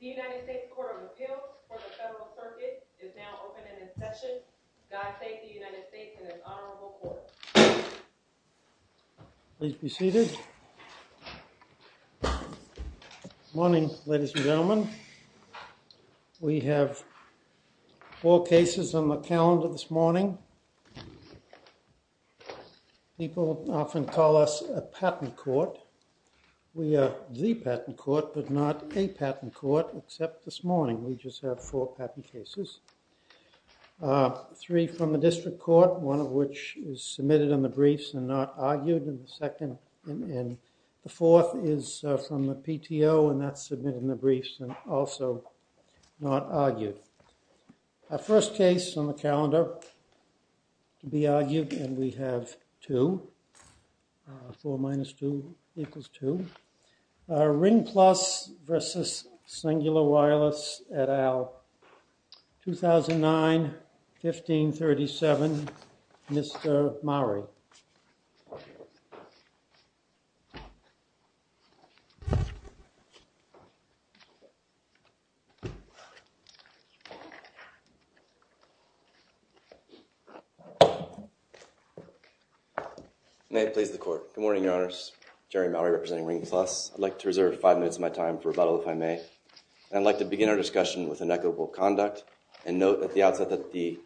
Everything is automated. With now, with the Cingular Wireless, the United States Court of Appeals for the Federal Circuit is now open to the public. Please be seated. Good morning, ladies and gentlemen. We have four cases on the calendar this morning. People often call us a patent court. We are the patent court, but not a patent court, except this morning. We just have four patent cases, three from the district court, one of which is submitted in the briefs and not argued, and the fourth is from the PTO, and that's submitted in the briefs and also not argued. Our first case on the calendar to be argued, and we have two, four minus two equals two, Ring Plus versus Cingular Wireless et al., 2009, 1537, Mr. Mowry. May it please the court. Good morning, your honors. I'm Ring Plus. I'd like to reserve five minutes of my time for rebuttal, if I may, and I'd like to begin our discussion with an equitable conduct and note at the outset that the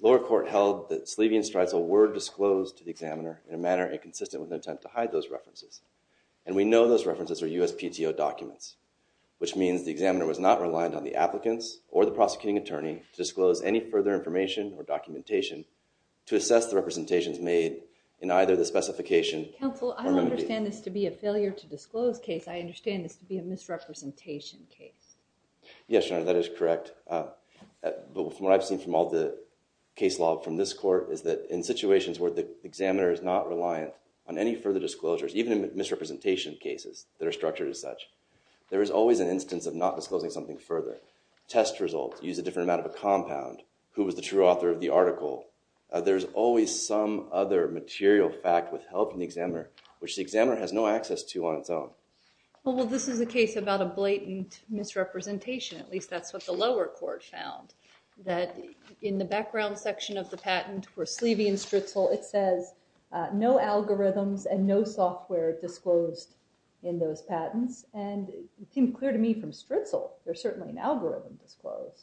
lower court held that Sleevian-Streisel were disclosed to the examiner in a manner inconsistent with an attempt to hide those references, and we know those references are USPTO documents, which means the examiner was not reliant on the applicants or the prosecuting attorney to disclose any further information or documentation to assess the representations made in either the specification or remedy. Counsel, I don't understand this to be a failure-to-disclose case. I understand this to be a misrepresentation case. Yes, your honor, that is correct, but from what I've seen from all the case law from this court is that in situations where the examiner is not reliant on any further disclosures, even in misrepresentation cases that are structured as such, there is always an instance of not disclosing something further. Test results use a different amount of a compound. Who was the true author of the article? There's always some other material fact withheld from the examiner, which the examiner has no access to on its own. Well, this is a case about a blatant misrepresentation, at least that's what the lower court found, that in the background section of the patent for Sleevian-Streisel, it says no algorithms and no software disclosed in those patents, and it seemed clear to me from Streisel there's certainly an algorithm disclosed.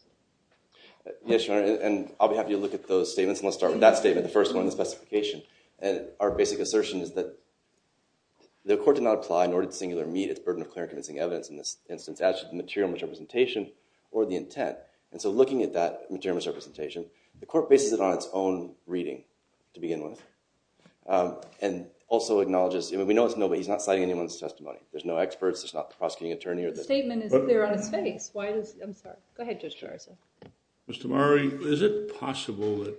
Yes, your honor, and I'll be happy to look at those statements, and I'll start with that statement, the first one in the specification. Our basic assertion is that the court did not apply in order to singularly meet its burden of clear and convincing evidence in this instance, as to the material misrepresentation or the intent. And so looking at that material misrepresentation, the court bases it on its own reading to begin with, and also acknowledges, we know it's nobody, he's not citing anyone's testimony, there's no experts, there's not the prosecuting attorney or the- Go ahead, Judge Streisel. Mr. Murray, is it possible that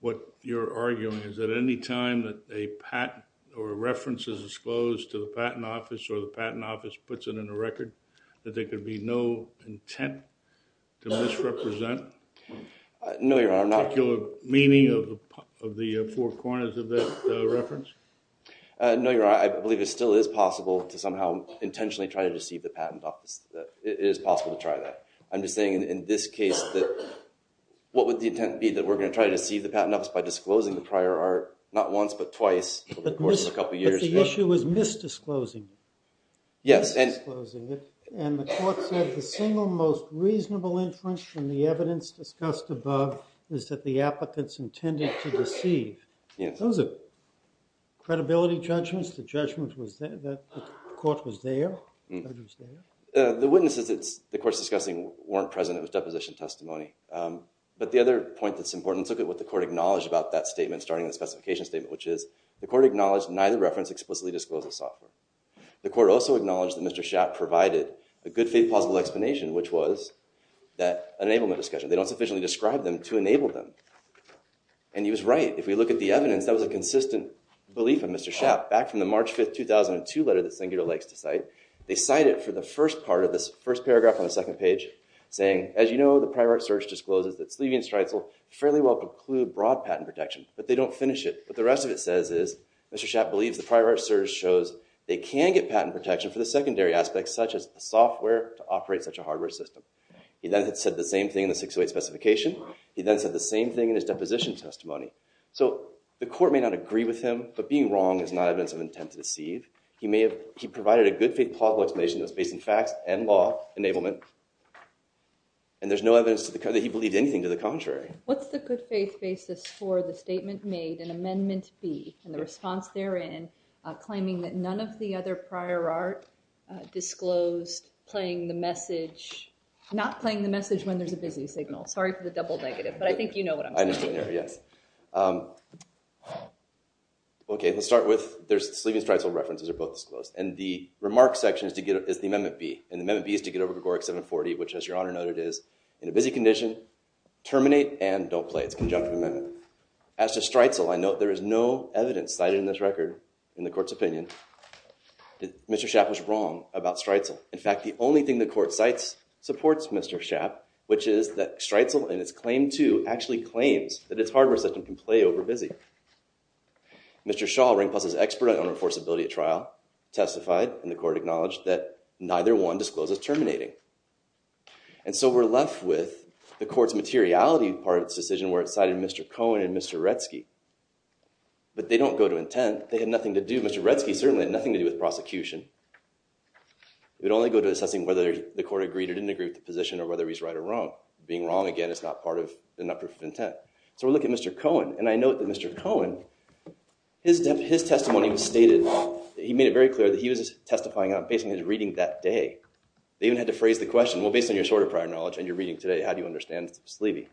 what you're arguing is that any time that a patent or a reference is disclosed to the Patent Office or the Patent Office puts it in the record that there could be no intent to misrepresent? No your honor, I'm not- Particular meaning of the four corners of that reference? No your honor, I believe it still is possible to somehow intentionally try to deceive the I'm just saying in this case that, what would the intent be that we're going to try to deceive the Patent Office by disclosing the prior art, not once but twice, over the course of a couple of years. But the issue is misdisclosing it. Yes, and- Misdisclosing it. And the court said the single most reasonable inference from the evidence discussed above is that the applicants intended to deceive. Those are credibility judgments, the judgment was that the court was there? The witnesses that the court's discussing weren't present, it was deposition testimony. But the other point that's important, let's look at what the court acknowledged about that statement starting with the specification statement, which is the court acknowledged neither reference explicitly discloses software. The court also acknowledged that Mr. Schaap provided a good faith plausible explanation, which was that enablement discussion, they don't sufficiently describe them to enable them. And he was right, if we look at the evidence, that was a consistent belief of Mr. Schaap. Back from the March 5, 2002 letter that Sengura likes to cite, they cite it for the first part of this first paragraph on the second page, saying, as you know, the prior art search discloses that Sleevian and Streitzel fairly well conclude broad patent protection, but they don't finish it. What the rest of it says is, Mr. Schaap believes the prior art search shows they can get patent protection for the secondary aspects such as the software to operate such a hardware system. He then said the same thing in the 608 specification, he then said the same thing in his deposition testimony. So the court may not agree with him, but being wrong is not evidence of intent to deceive. He provided a good faith plausible explanation that was based on facts and law enablement, and there's no evidence that he believed anything to the contrary. What's the good faith basis for the statement made in Amendment B, and the response therein claiming that none of the other prior art disclosed playing the message, not playing the message when there's a busy signal? I just didn't hear, yes. OK, let's start with there's Sleevian and Streitzel references are both disclosed, and the remark section is the Amendment B, and the Amendment B is to get over Gregoric 740, which as your honor noted is, in a busy condition, terminate, and don't play. It's a conjunctive amendment. As to Streitzel, I note there is no evidence cited in this record, in the court's opinion, that Mr. Schaap was wrong about Streitzel. In fact, the only thing the court cites supports Mr. Schaap, which is that Streitzel in its Claim 2 actually claims that its hardware system can play over busy. Mr. Schaal, Ring Plus's expert on enforceability at trial, testified, and the court acknowledged, that neither one discloses terminating. And so we're left with the court's materiality part of its decision where it cited Mr. Cohen and Mr. Retzke, but they don't go to intent, they had nothing to do, Mr. Retzke certainly had nothing to do with prosecution, it would only go to assessing whether the court agreed or didn't agree with the position, or whether he's right or wrong. Being wrong, again, is not part of an uproof of intent. So we look at Mr. Cohen, and I note that Mr. Cohen, his testimony was stated, he made it very clear that he was testifying based on his reading that day. They even had to phrase the question, well, based on your sort of prior knowledge and your reading today, how do you understand Sleevey?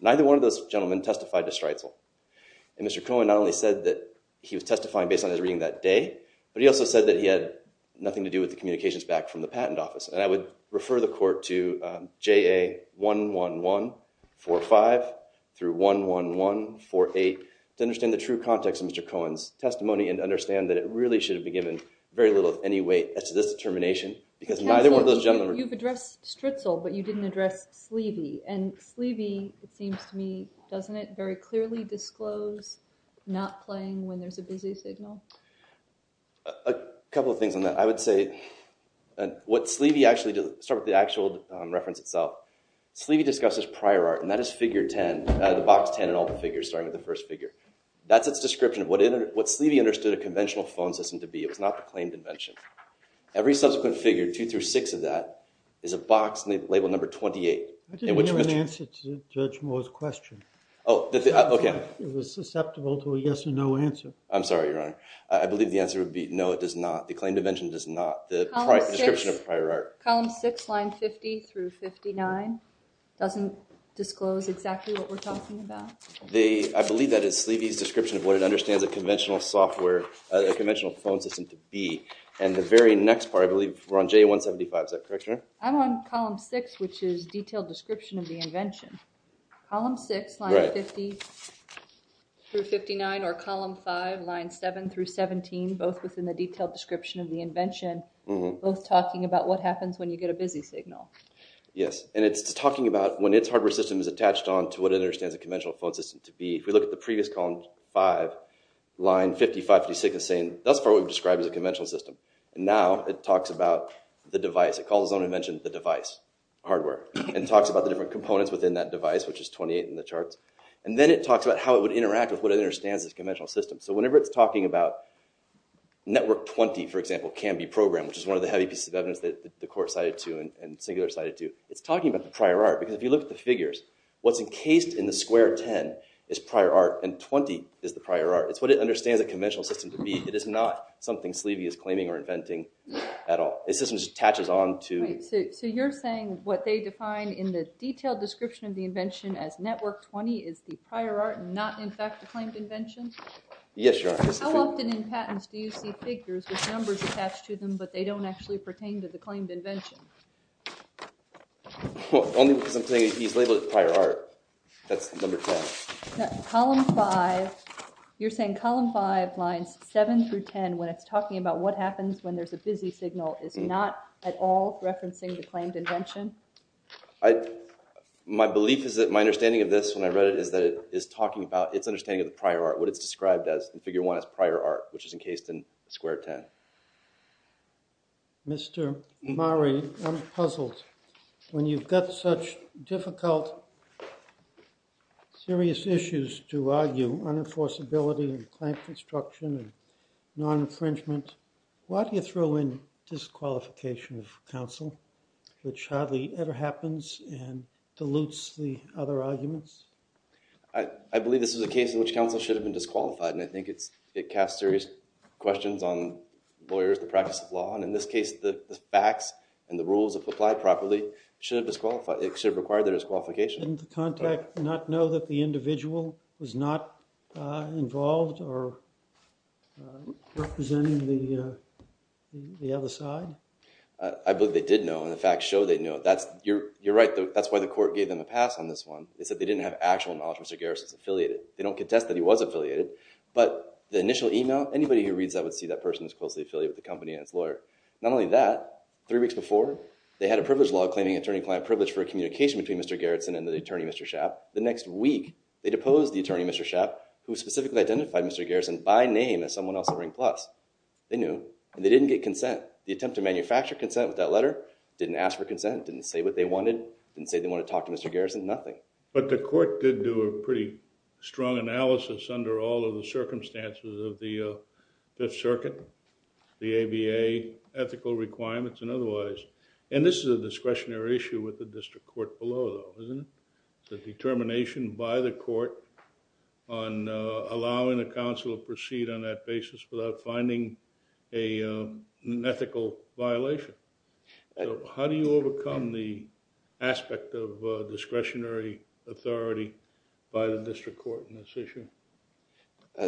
Neither one of those gentlemen testified to Streitzel, and Mr. Cohen not only said that he was testifying based on his reading that day, but he also said that he had nothing to do with the communications back from the patent office, and I would refer the court to JA 11145 through 11148 to understand the true context of Mr. Cohen's testimony and to understand that it really should have been given very little, any weight as to this determination, because neither one of those gentlemen were- Counsel, you've addressed Streitzel, but you didn't address Sleevey, and Sleevey, it seems to me, doesn't it very clearly disclose not playing when there's a busy signal? A couple of things on that. I would say, what Sleevey actually does, start with the actual reference itself. Sleevey discusses prior art, and that is figure 10, the box 10 in all the figures, starting with the first figure. That's its description of what Sleevey understood a conventional phone system to be. It was not the claimed invention. Every subsequent figure, two through six of that, is a box labeled number 28, in which question- I didn't hear an answer to Judge Moore's question. Oh, okay. It was susceptible to a yes or no answer. I'm sorry, Your Honor. I believe the answer would be no, it does not. The claimed invention does not. The description of a prior art. Column six, line 50 through 59, doesn't disclose exactly what we're talking about. I believe that is Sleevey's description of what it understands a conventional software, a conventional phone system to be. The very next part, I believe we're on J175, is that correct, Your Honor? I'm on column six, which is detailed description of the invention. Column six, line 50 through 59, or column five, line seven through 17, both within the detailed description of the invention, both talking about what happens when you get a busy signal. Yes. It's talking about when its hardware system is attached on to what it understands a conventional phone system to be. If we look at the previous column five, line 50, 55, 56, it's saying, thus far we've described it as a conventional system. Now it talks about the device. It calls its own invention, the device, hardware, and talks about the different components within that device, which is 28 in the charts. Then it talks about how it would interact with what it understands as a conventional system. So whenever it's talking about network 20, for example, can be programmed, which is one of the heavy pieces of evidence that the court cited to and Singular cited to, it's talking about the prior art. Because if you look at the figures, what's encased in the square 10 is prior art, and 20 is the prior art. It's what it understands a conventional system to be. It is not something Sleevey is claiming or inventing at all. It's just as it attaches on to- So you're saying what they define in the detailed description of the invention as network 20 is the prior art and not, in fact, the claimed invention? Yes, Your Honor. How often in patents do you see figures with numbers attached to them, but they don't actually pertain to the claimed invention? Only because I'm saying he's labeled it prior art. That's number 10. Column 5, you're saying column 5 lines 7 through 10, when it's talking about what happens when there's a busy signal, is not at all referencing the claimed invention? My belief is that my understanding of this, when I read it, is that it is talking about its understanding of the prior art, what it's described as in figure 1 as prior art, which is encased in square 10. Mr. Mare, I'm puzzled. When you've got such difficult, serious issues to argue, unenforceability and clamp construction and non-infringement, why do you throw in disqualification of counsel, which hardly ever happens, and dilutes the other arguments? I believe this is a case in which counsel should have been disqualified, and I think it casts serious questions on lawyers, the practice of law, and in this case, the facts and the rules, if applied properly, should have disqualified, it should have required their disqualification. Didn't the contact not know that the individual was not involved or representing the other side? I believe they did know, and the facts show they knew. You're right, that's why the court gave them a pass on this one. They said they didn't have actual knowledge of Mr. Garrison's affiliated. They don't contest that he was affiliated, but the initial email, anybody who reads that would see that person as closely affiliated with the company and its lawyer. Not only that, three weeks before, they had a privilege law claiming attorney-client privilege for a communication between Mr. Garrison and the attorney, Mr. Schaap. The next week, they deposed the attorney, Mr. Schaap, who specifically identified Mr. Garrison by name as someone else at Ring Plus. They knew, and they didn't get consent. The attempt to manufacture consent with that letter, didn't ask for consent, didn't say what they wanted, didn't say they wanted to talk to Mr. Garrison, nothing. But the court did do a pretty strong analysis under all of the circumstances of the Fifth Circuit, the ABA, ethical requirements and otherwise, and this is a discretionary issue with the district court below, though, isn't it? The determination by the court on allowing a counsel to proceed on that basis without finding an ethical violation. How do you overcome the aspect of discretionary authority by the district court in this issue?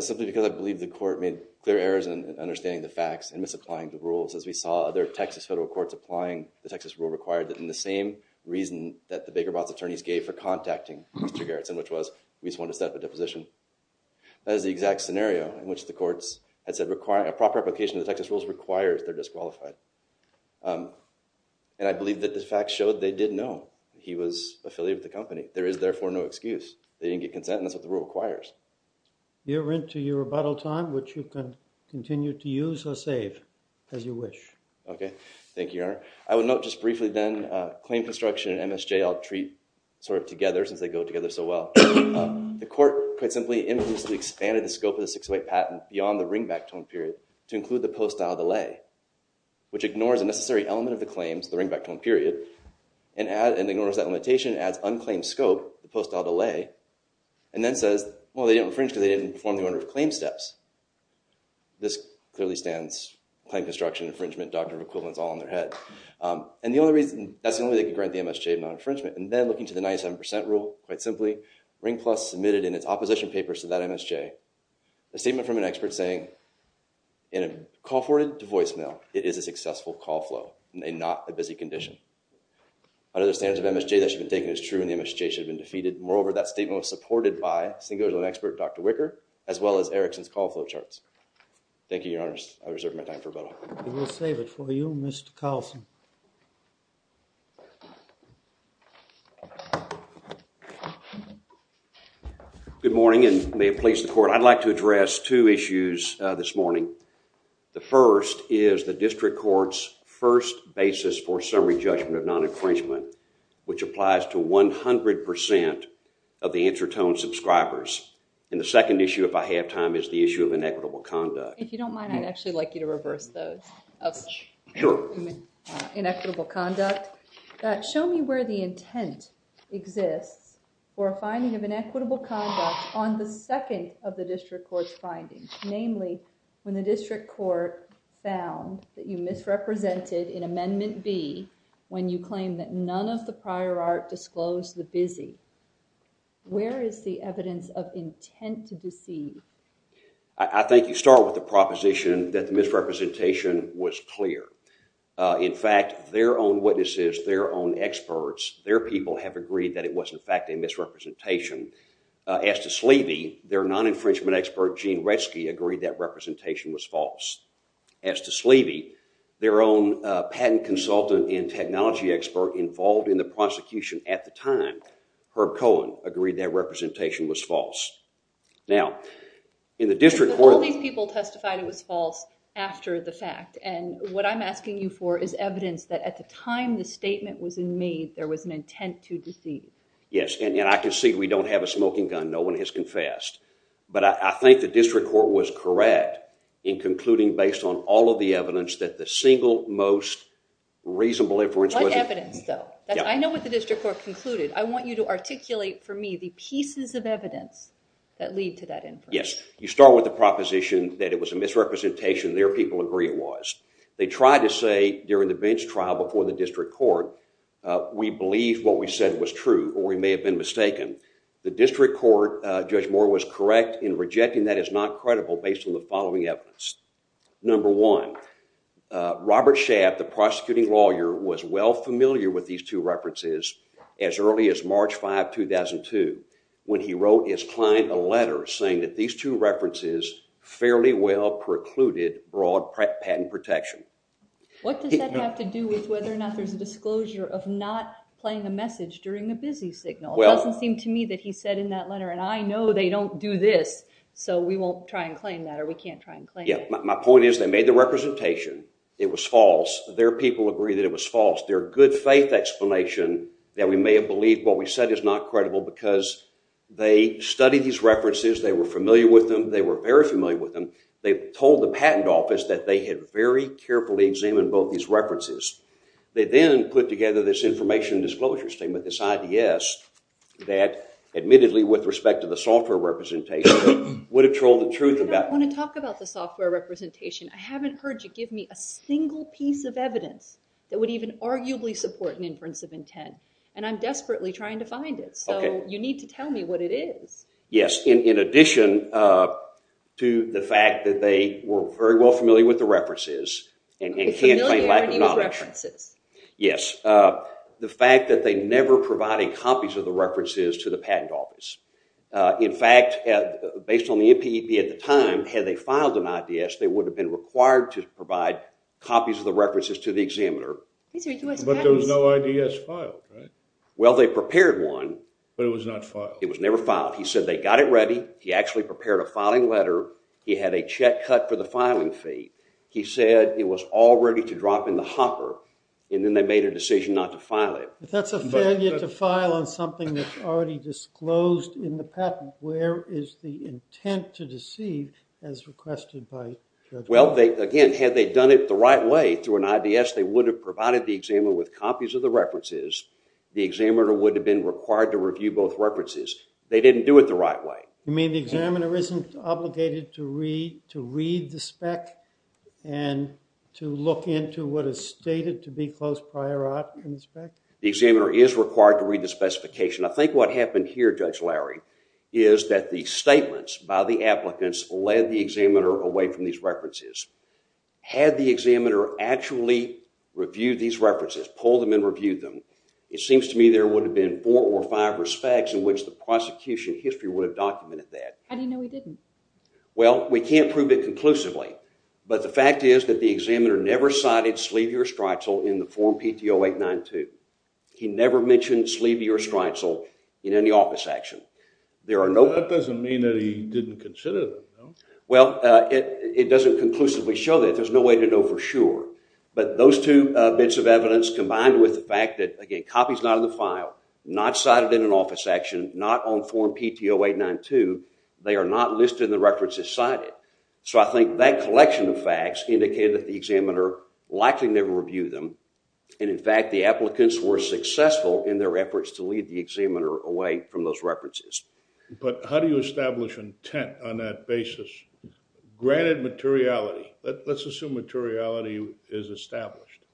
Simply because I believe the court made clear errors in understanding the facts and misapplying the rules. As we saw other Texas federal courts applying, the Texas rule required that in the same reason that the Baker Botts attorneys gave for contacting Mr. Garrison, which was, we just want to set up a deposition. That is the exact scenario in which the courts had said a proper application of the Texas rules requires they're disqualified. And I believe that the facts showed they did know he was affiliated with the company. There is therefore no excuse. They didn't get consent, and that's what the rule requires. You're into your rebuttal time, which you can continue to use or save as you wish. Okay. Thank you, Your Honor. I would note just briefly then, claim construction and MSJ I'll treat sort of together since they go together so well. The court quite simply implicitly expanded the scope of the 608 patent beyond the ringback tone period to include the post-dial delay, which ignores a necessary element of the claims, the ringback tone period, and ignores that limitation as unclaimed scope, the post-dial delay, and then says, well, they didn't infringe because they didn't perform the order of claim steps. This clearly stands claim construction infringement doctrine of equivalence all in their head. And that's the only way they could grant the MSJ non-infringement. And then looking to the 97% rule, quite simply, Ring Plus submitted in its opposition papers to that MSJ a statement from an expert saying, in a call forwarded to voicemail, it is a successful call flow and not a busy condition. Under the standards of MSJ, that should have been taken as true, and the MSJ should have been defeated. Moreover, that statement was supported by Singleton expert Dr. Wicker, as well as Erickson's call flow charts. Thank you, your honors. I reserve my time for rebuttal. We will save it for you, Mr. Carlson. Good morning, and may it please the court, I'd like to address two issues this morning. The first is the district court's first basis for summary judgment of non-infringement, which applies to 100% of the intertone subscribers. And the second issue, if I have time, is the issue of inequitable conduct. If you don't mind, I'd actually like you to reverse those, of inequitable conduct. Show me where the intent exists for a finding of inequitable conduct on the second of the district court's findings, namely, when the district court found that you misrepresented in Amendment B, when you claimed that none of the prior art disclosed the busy. Where is the evidence of intent to deceive? I think you start with the proposition that the misrepresentation was clear. In fact, their own witnesses, their own experts, their people have agreed that it was in fact a misrepresentation. As to Sleevey, their non-infringement expert, Gene Retzke, agreed that representation was false. As to Sleevey, their own patent consultant and technology expert involved in the prosecution at the time, Herb Cohen, agreed that representation was false. Now, in the district court- But all these people testified it was false after the fact, and what I'm asking you for is evidence that at the time the statement was made, there was an intent to deceive. Yes, and I can see we don't have a smoking gun. No one has confessed. But I think the district court was correct in concluding based on all of the evidence that the single most reasonable inference was- What evidence though? I know what the district court concluded. I want you to articulate for me the pieces of evidence that lead to that inference. Yes, you start with the proposition that it was a misrepresentation. Their people agree it was. They tried to say during the bench trial before the district court, we believe what we said was true, or we may have been mistaken. The district court, Judge Moore, was correct in rejecting that as not credible based on the following evidence. Number one, Robert Schaaf, the prosecuting lawyer, was well familiar with these two references as early as March 5, 2002, when he wrote his client a letter saying that these two references fairly well precluded broad patent protection. What does that have to do with whether or not there's a disclosure of not playing a message during the busy signal? It doesn't seem to me that he said in that letter, and I know they don't do this, so we won't try and claim that, or we can't try and claim it. My point is, they made the representation. It was false. Their people agree that it was false. Their good faith explanation that we may have believed what we said is not credible because they studied these references. They were familiar with them. They were very familiar with them. They told the patent office that they had very carefully examined both these references. They then put together this information disclosure statement, this IDS, that admittedly, with respect to the software representation, would have told the truth about- I don't want to talk about the software representation. I haven't heard you give me a single piece of evidence that would even arguably support an inference of intent, and I'm desperately trying to find it, so you need to tell me what it is. Yes. In addition to the fact that they were very well familiar with the references and can't say with lack of knowledge. They were familiar with the references. Yes. The fact that they never provided copies of the references to the patent office. In fact, based on the NPEP at the time, had they filed an IDS, they would have been required to provide copies of the references to the examiner. These are U.S. patents. But there was no IDS filed, right? Well, they prepared one. But it was not filed. It was never filed. He said they got it ready. He actually prepared a filing letter. He had a check cut for the filing fee. He said it was all ready to drop in the hopper, and then they made a decision not to file it. But that's a failure to file on something that's already disclosed in the patent. Where is the intent to deceive as requested by the judge? Well, again, had they done it the right way through an IDS, they would have provided the examiner with copies of the references. The examiner would have been required to review both references. They didn't do it the right way. You mean the examiner isn't obligated to read the spec and to look into what is stated to be close prior art in the spec? The examiner is required to read the specification. I think what happened here, Judge Lowry, is that the statements by the applicants led the examiner away from these references. Had the examiner actually reviewed these references, pulled them and reviewed them, it seems to me there would have been four or five respects in which the prosecution history would have documented that. How do you know he didn't? Well, we can't prove it conclusively. But the fact is that the examiner never cited Slevey or Streitzel in the form PTO 892. He never mentioned Slevey or Streitzel in any office action. That doesn't mean that he didn't consider them. Well, it doesn't conclusively show that. There's no way to know for sure. But those two bits of evidence combined with the fact that, again, copies not in the file, not cited in an office action, not on form PTO 892, they are not listed in the references cited. So I think that collection of facts indicated that the examiner likely never reviewed them. And, in fact, the applicants were successful in their efforts to lead the examiner away from those references. But how do you establish intent on that basis? Granted materiality. Let's assume materiality is established.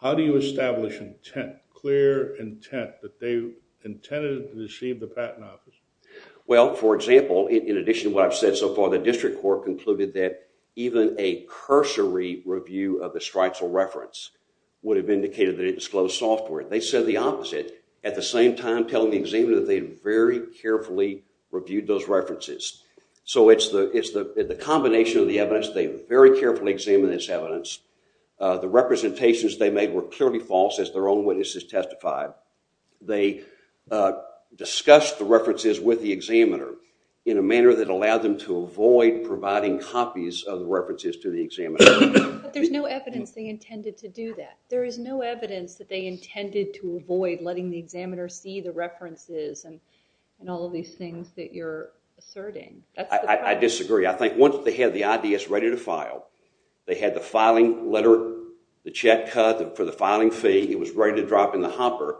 How do you establish intent? Clear intent that they intended to receive the patent office? Well, for example, in addition to what I've said so far, the district court concluded that even a cursory review of the Streitzel reference would have indicated that it disclosed software. They said the opposite, at the same time telling the examiner that they very carefully reviewed those references. So it's the combination of the evidence. They very carefully examined this evidence. The representations they made were clearly false, as their own witnesses testified. They discussed the references with the examiner in a manner that allowed them to avoid providing copies of the references to the examiner. But there's no evidence they intended to do that. There is no evidence that they intended to avoid letting the examiner see the references and all of these things that you're asserting. I disagree. I think once they had the IDS ready to file, they had the filing letter, the check cut for the filing fee. It was ready to drop in the hopper.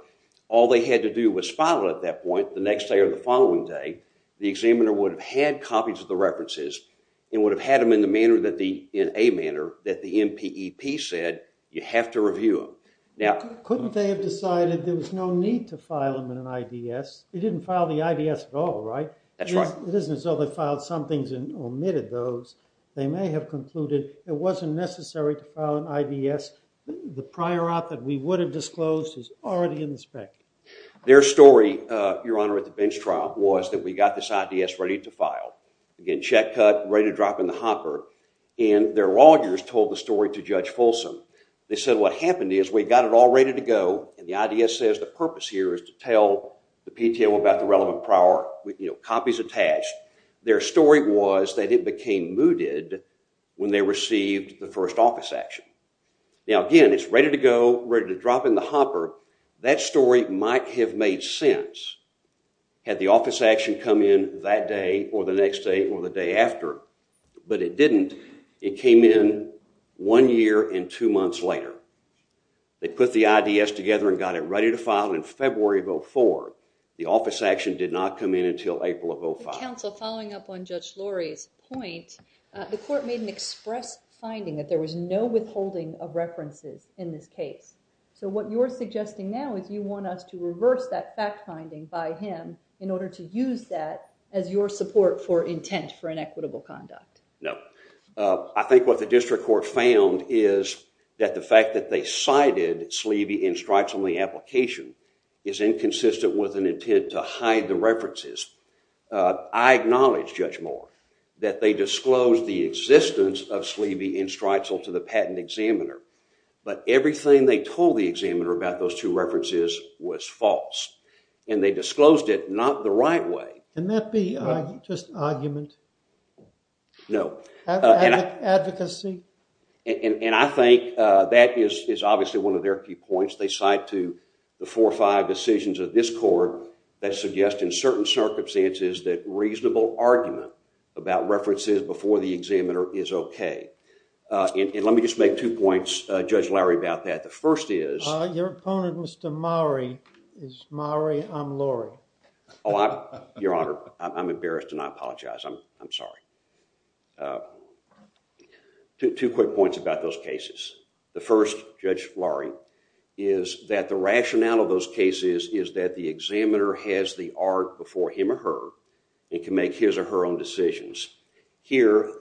All they had to do was file it at that point the next day or the following day. The examiner would have had copies of the references and would have had them in a manner that the MPEP said you have to review them. Couldn't they have decided there was no need to file them in an IDS? They didn't file the IDS at all, right? That's right. It isn't as though they filed some things and omitted those. They may have concluded it wasn't necessary to file an IDS. The prior op that we would have disclosed is already in the spec. Their story, Your Honor, at the bench trial was that we got this IDS ready to file. Again, check cut, ready to drop in the hopper. Their lawyers told the story to Judge Folsom. They said what happened is we got it all ready to go and the IDS says the purpose here is to tell the PTL about the relevant prior, you know, copies attached. Their story was that it became mooted when they received the first office action. Now again, it's ready to go, ready to drop in the hopper. That story might have made sense had the office action come in that day or the next day or the day after. But it didn't. It came in one year and two months later. They put the IDS together and got it ready to file in February of 2004. The office action did not come in until April of 2005. Counsel, following up on Judge Lurie's point, the court made an express finding that there was no withholding of references in this case. So what you're suggesting now is you want us to reverse that fact finding by him in order to use that as your support for intent for inequitable conduct. No. I think what the district court found is that the fact that they cited Sleevey and Streitzel in the application is inconsistent with an intent to hide the references. I acknowledge, Judge Moore, that they disclosed the existence of Sleevey and Streitzel to the patent examiner. But everything they told the examiner about those two references was false. And they disclosed it not the right way. Can that be just argument? No. Advocacy? And I think that is obviously one of their key points. They cite to the four or five decisions of this court that suggest in certain circumstances that reasonable argument about references before the examiner is OK. And let me just make two points, Judge Lurie, about that. The first is- Your opponent, Mr. Mowrey, is Mowrey, I'm Lurie. Your Honor, I'm embarrassed and I apologize. I'm sorry. Two quick points about those cases. The first, Judge Lurie, is that the rationale of those cases is that the examiner has the art before him or her and can make his or her own decisions. Here,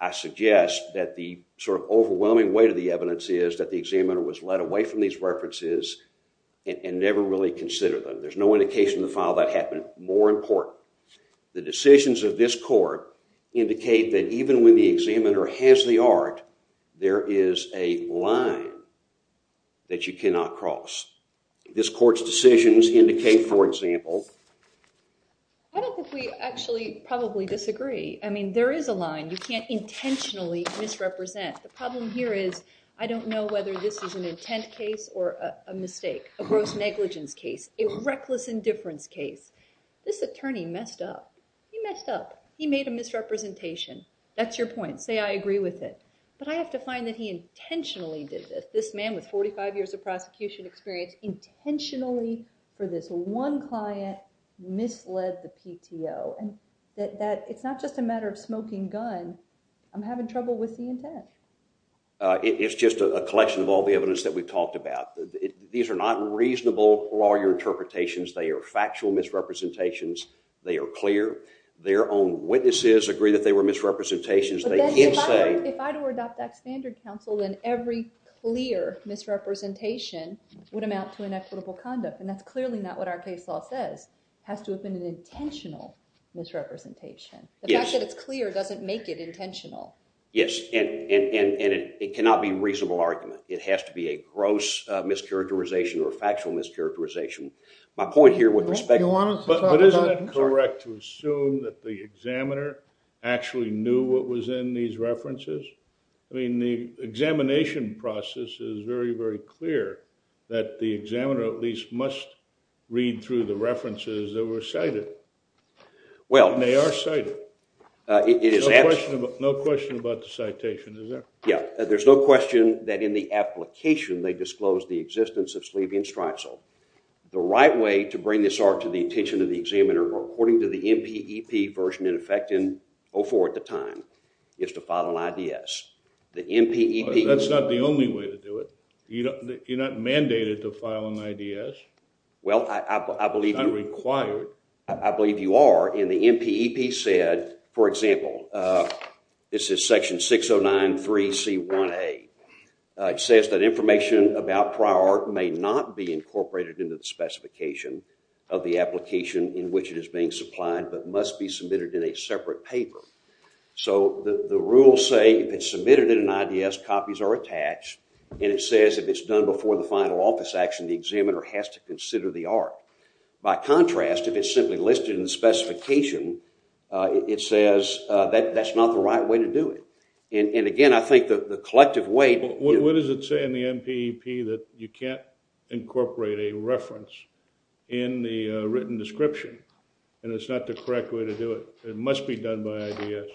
I suggest that the sort of overwhelming weight of the evidence is that the examiner was led away from these references and never really considered them. There's no indication in the file that happened. More important, the decisions of this court indicate that even when the examiner has the art, there is a line that you cannot cross. This court's decisions indicate, for example- I don't think we actually probably disagree. I mean, there is a line you can't intentionally misrepresent. The problem here is I don't know whether this is an intent case or a mistake, a gross negligence case, a reckless indifference case. This attorney messed up. He messed up. He made a misrepresentation. That's your point. Say I agree with it. But I have to find that he intentionally did this. This man with 45 years of prosecution experience intentionally, for this one client, misled the PTO. It's not just a matter of smoking gun. I'm having trouble with the intent. It's just a collection of all the evidence that we've talked about. These are not reasonable lawyer interpretations. They are factual misrepresentations. They are clear. Their own witnesses agree that they were misrepresentations. They did say- If I were to adopt that standard counsel, then every clear misrepresentation would amount to inequitable conduct. And that's clearly not what our case law says. It has to have been an intentional misrepresentation. The fact that it's clear doesn't make it intentional. Yes, and it cannot be a reasonable argument. It has to be a gross mischaracterization or factual mischaracterization. My point here with respect- But isn't it correct to assume that the examiner actually knew what was in these references? I mean, the examination process is very, very clear that the examiner at least must read through the references that were cited. Well- And they are cited. It is- No question about the citation, is there? Yeah, there's no question that in the application they disclosed the existence of Sleevian-Streisel. The right way to bring this to the attention of the examiner, according to the NPEP version in effect in 04 at the time, is to file an IDS. The NPEP- That's not the only way to do it. You're not mandated to file an IDS. Well, I believe- Not required. I believe you are, and the NPEP said- For example, this is section 6093C1A. It says that information about prior art may not be incorporated into the specification of the application in which it is being supplied but must be submitted in a separate paper. So the rules say if it's submitted in an IDS, copies are attached, and it says if it's done before the final office action, the examiner has to consider the art. By contrast, if it's simply listed in the specification, it says that's not the right way to do it. And again, I think the collective way- What does it say in the NPEP that you can't incorporate a reference in the written description, and it's not the correct way to do it? It must be done by IDS.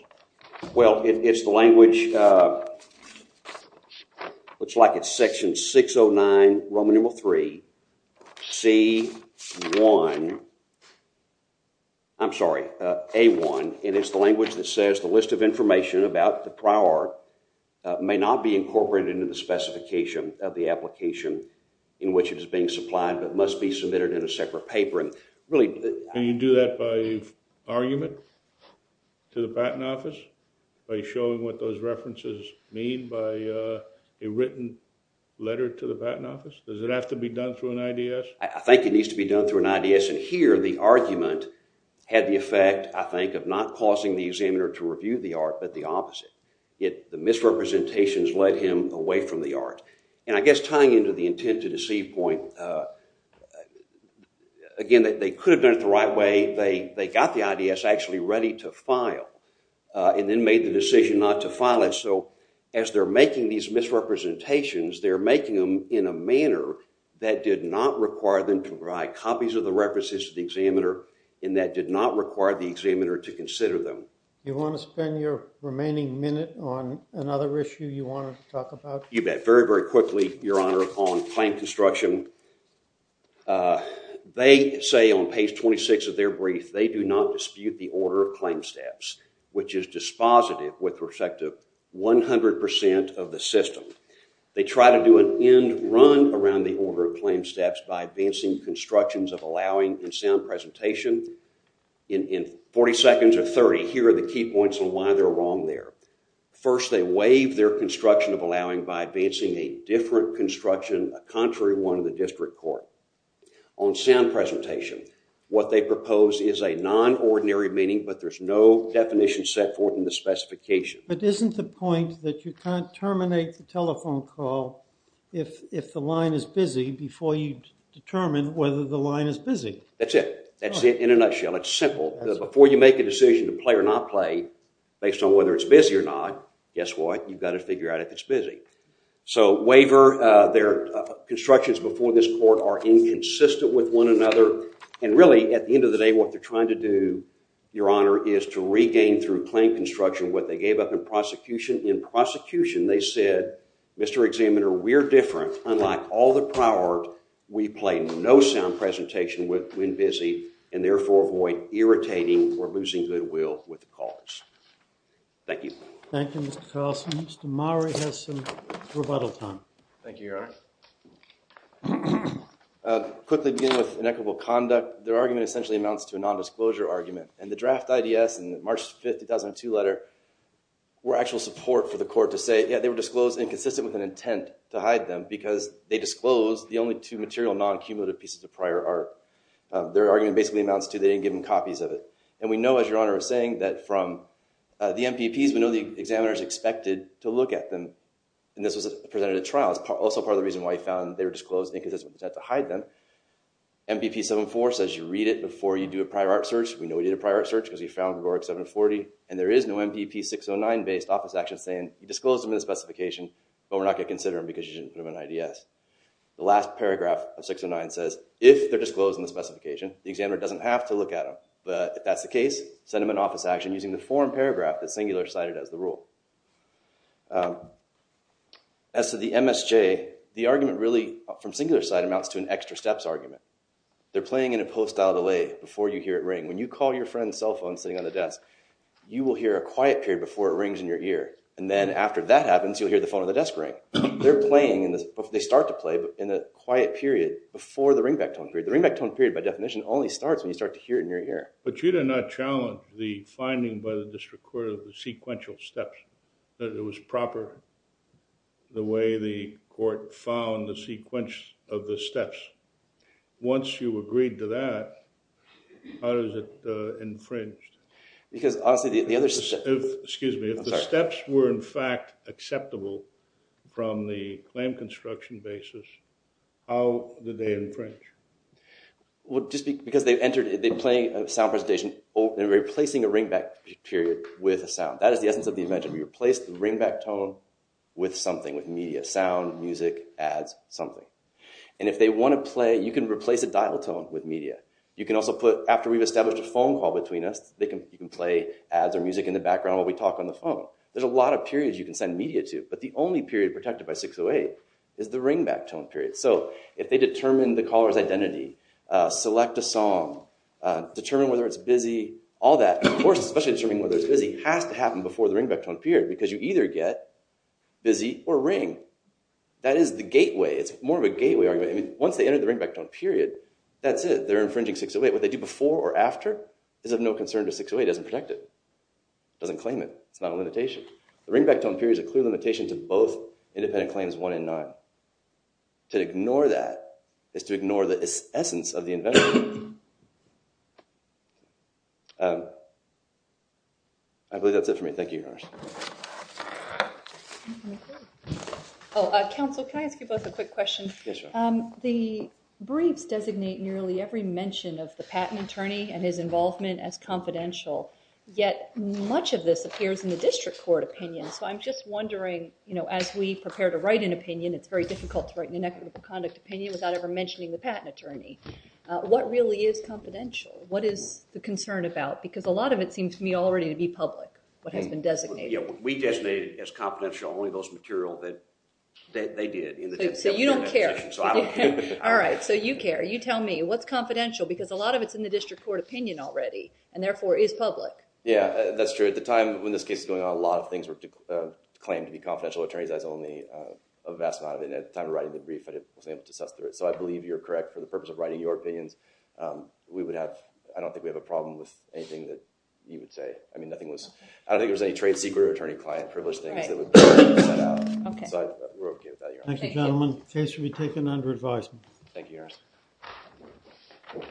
Well, it's the language- Looks like it's section 609 Roman numeral 3C1- I'm sorry, A1, and it's the language that says the list of information about the prior art may not be incorporated into the specification of the application in which it is being supplied but must be submitted in a separate paper. Can you do that by argument to the Patent Office by showing what those references mean by a written letter to the Patent Office? Does it have to be done through an IDS? I think it needs to be done through an IDS, and here the argument had the effect, I think, of not causing the examiner to review the art, but the opposite. The misrepresentations led him away from the art. And I guess tying into the intent to deceive point, again, they could have done it the right way. They got the IDS actually ready to file and then made the decision not to file it, so as they're making these misrepresentations, they're making them in a manner that did not require them to write copies of the references to the examiner and that did not require the examiner to consider them. You want to spend your remaining minute on another issue you wanted to talk about? You bet. Very, very quickly, Your Honor, on claim construction. They say on page 26 of their brief, they do not dispute the order of claim steps, which is dispositive with respect to 100% of the system. They try to do an end run around the order of claim steps by advancing constructions of allowing in sound presentation. In 40 seconds or 30, here are the key points on why they're wrong there. First, they waive their construction of allowing by advancing a different construction, a contrary one of the district court. On sound presentation, what they propose is a non-ordinary meaning, but there's no definition set forth in the specification. But isn't the point that you can't terminate the telephone call if the line is busy before you determine whether the line is busy? That's it. That's it in a nutshell. It's simple. Before you make a decision to play or not play, based on whether it's busy or not, guess what? You've got to figure out if it's busy. So waiver their constructions before this court are inconsistent with one another. And really, at the end of the day, what they're trying to do, Your Honor, is to regain through claim construction what they gave up in prosecution. In prosecution, they said, Mr. Examiner, we're different. Unlike all the prior art, we play no sound presentation when busy, and therefore avoid irritating or losing goodwill with the cause. Thank you. Thank you, Mr. Carlson. Mr. Mowrey has some rebuttal time. Thank you, Your Honor. Quickly begin with inequitable conduct. Their argument essentially amounts to a nondisclosure argument. And the draft IDS in the March 5, 2002 letter were actual support for the court to say, yeah, they were disclosed inconsistent with an intent to hide them, because they disclosed the only two material non-accumulative pieces of prior art. Their argument basically amounts to they didn't give them copies of it. And we know, as Your Honor is saying, that from the MPPs, we know the examiner is expected to look at them. And this was presented at trial. It's also part of the reason why he found they were disclosed inconsistent with the intent to hide them. MPP 7-4 says you read it before you do a prior art search. We know we did a prior art search, because we found Gregoric 7-40. And there is no MPP 6-09 based office action saying you disclosed them in the specification, but we're not going to consider them, because you didn't put them in IDS. The last paragraph of 6-09 says, if they're disclosed in the specification, the examiner doesn't have to look at them. But if that's the case, send them an office action using the form paragraph that Singular cited as the rule. As to the MSJ, the argument really, from Singular's side, amounts to an extra steps argument. They're playing in a post-style delay before you hear it ring. When you call your friend's cell phone sitting on the desk, you will hear a quiet period before it rings in your ear. And then after that happens, you'll hear the phone on the desk ring. They're playing, they start to play, in a quiet period before the ringback tone period. The ringback tone period, by definition, only starts when you start to hear it in your ear. But you did not challenge the finding by the district court the court found the sequence of the steps. Once you agreed to that, how is it infringed? If the steps were, in fact, acceptable from the claim construction basis, how did they infringe? Just because they're playing a sound presentation, they're replacing a ringback period with a sound. That is the essence of the invention. We replace the ringback tone with something, with media, sound, music, ads, something. And if they want to play, you can replace a dial tone with media. You can also put, after we've established a phone call between us, you can play ads or music in the background while we talk on the phone. There's a lot of periods you can send media to. But the only period protected by 608 is the ringback tone period. So if they determine the caller's identity, select a song, determine whether it's busy, all that, of course, especially determining whether it's busy, has to happen before the ringback tone period. Because you either get busy or ring. That is the gateway. It's more of a gateway argument. Once they enter the ringback tone period, that's it. They're infringing 608. What they do before or after is of no concern to 608. It doesn't protect it. It doesn't claim it. It's not a limitation. The ringback tone period is a clear limitation to both independent claims 1 and 9. To ignore that is to ignore the essence of the invention. I believe that's it for me. Thank you, yours. Oh, counsel, can I ask you both a quick question? Yes, ma'am. The briefs designate nearly every mention of the patent attorney and his involvement as confidential. Yet much of this appears in the district court opinion. So I'm just wondering, as we prepare to write an opinion, it's very difficult to write an inequitable conduct opinion without ever mentioning the patent attorney. What really is confidential? What is the concern about? Because a lot of it seems to me already to be public, what has been designated. We designated as confidential only those material that they did. So you don't care. All right, so you care. You tell me. What's confidential? Because a lot of it's in the district court opinion already and therefore is public. Yeah, that's true. At the time when this case is going on, a lot of things were claimed to be confidential. Attorneys has only a vast amount of it. And at the time of writing the brief, I wasn't able to suss through it. So I believe you're correct. For the purpose of writing your opinions, I don't think we have a problem with anything that you would say. I mean, nothing was. I don't think there was any trade secret or attorney client privilege things that would be set out. So we're OK with that, Your Honor. Thank you. Case will be taken under advisement. Thank you, Your Honor.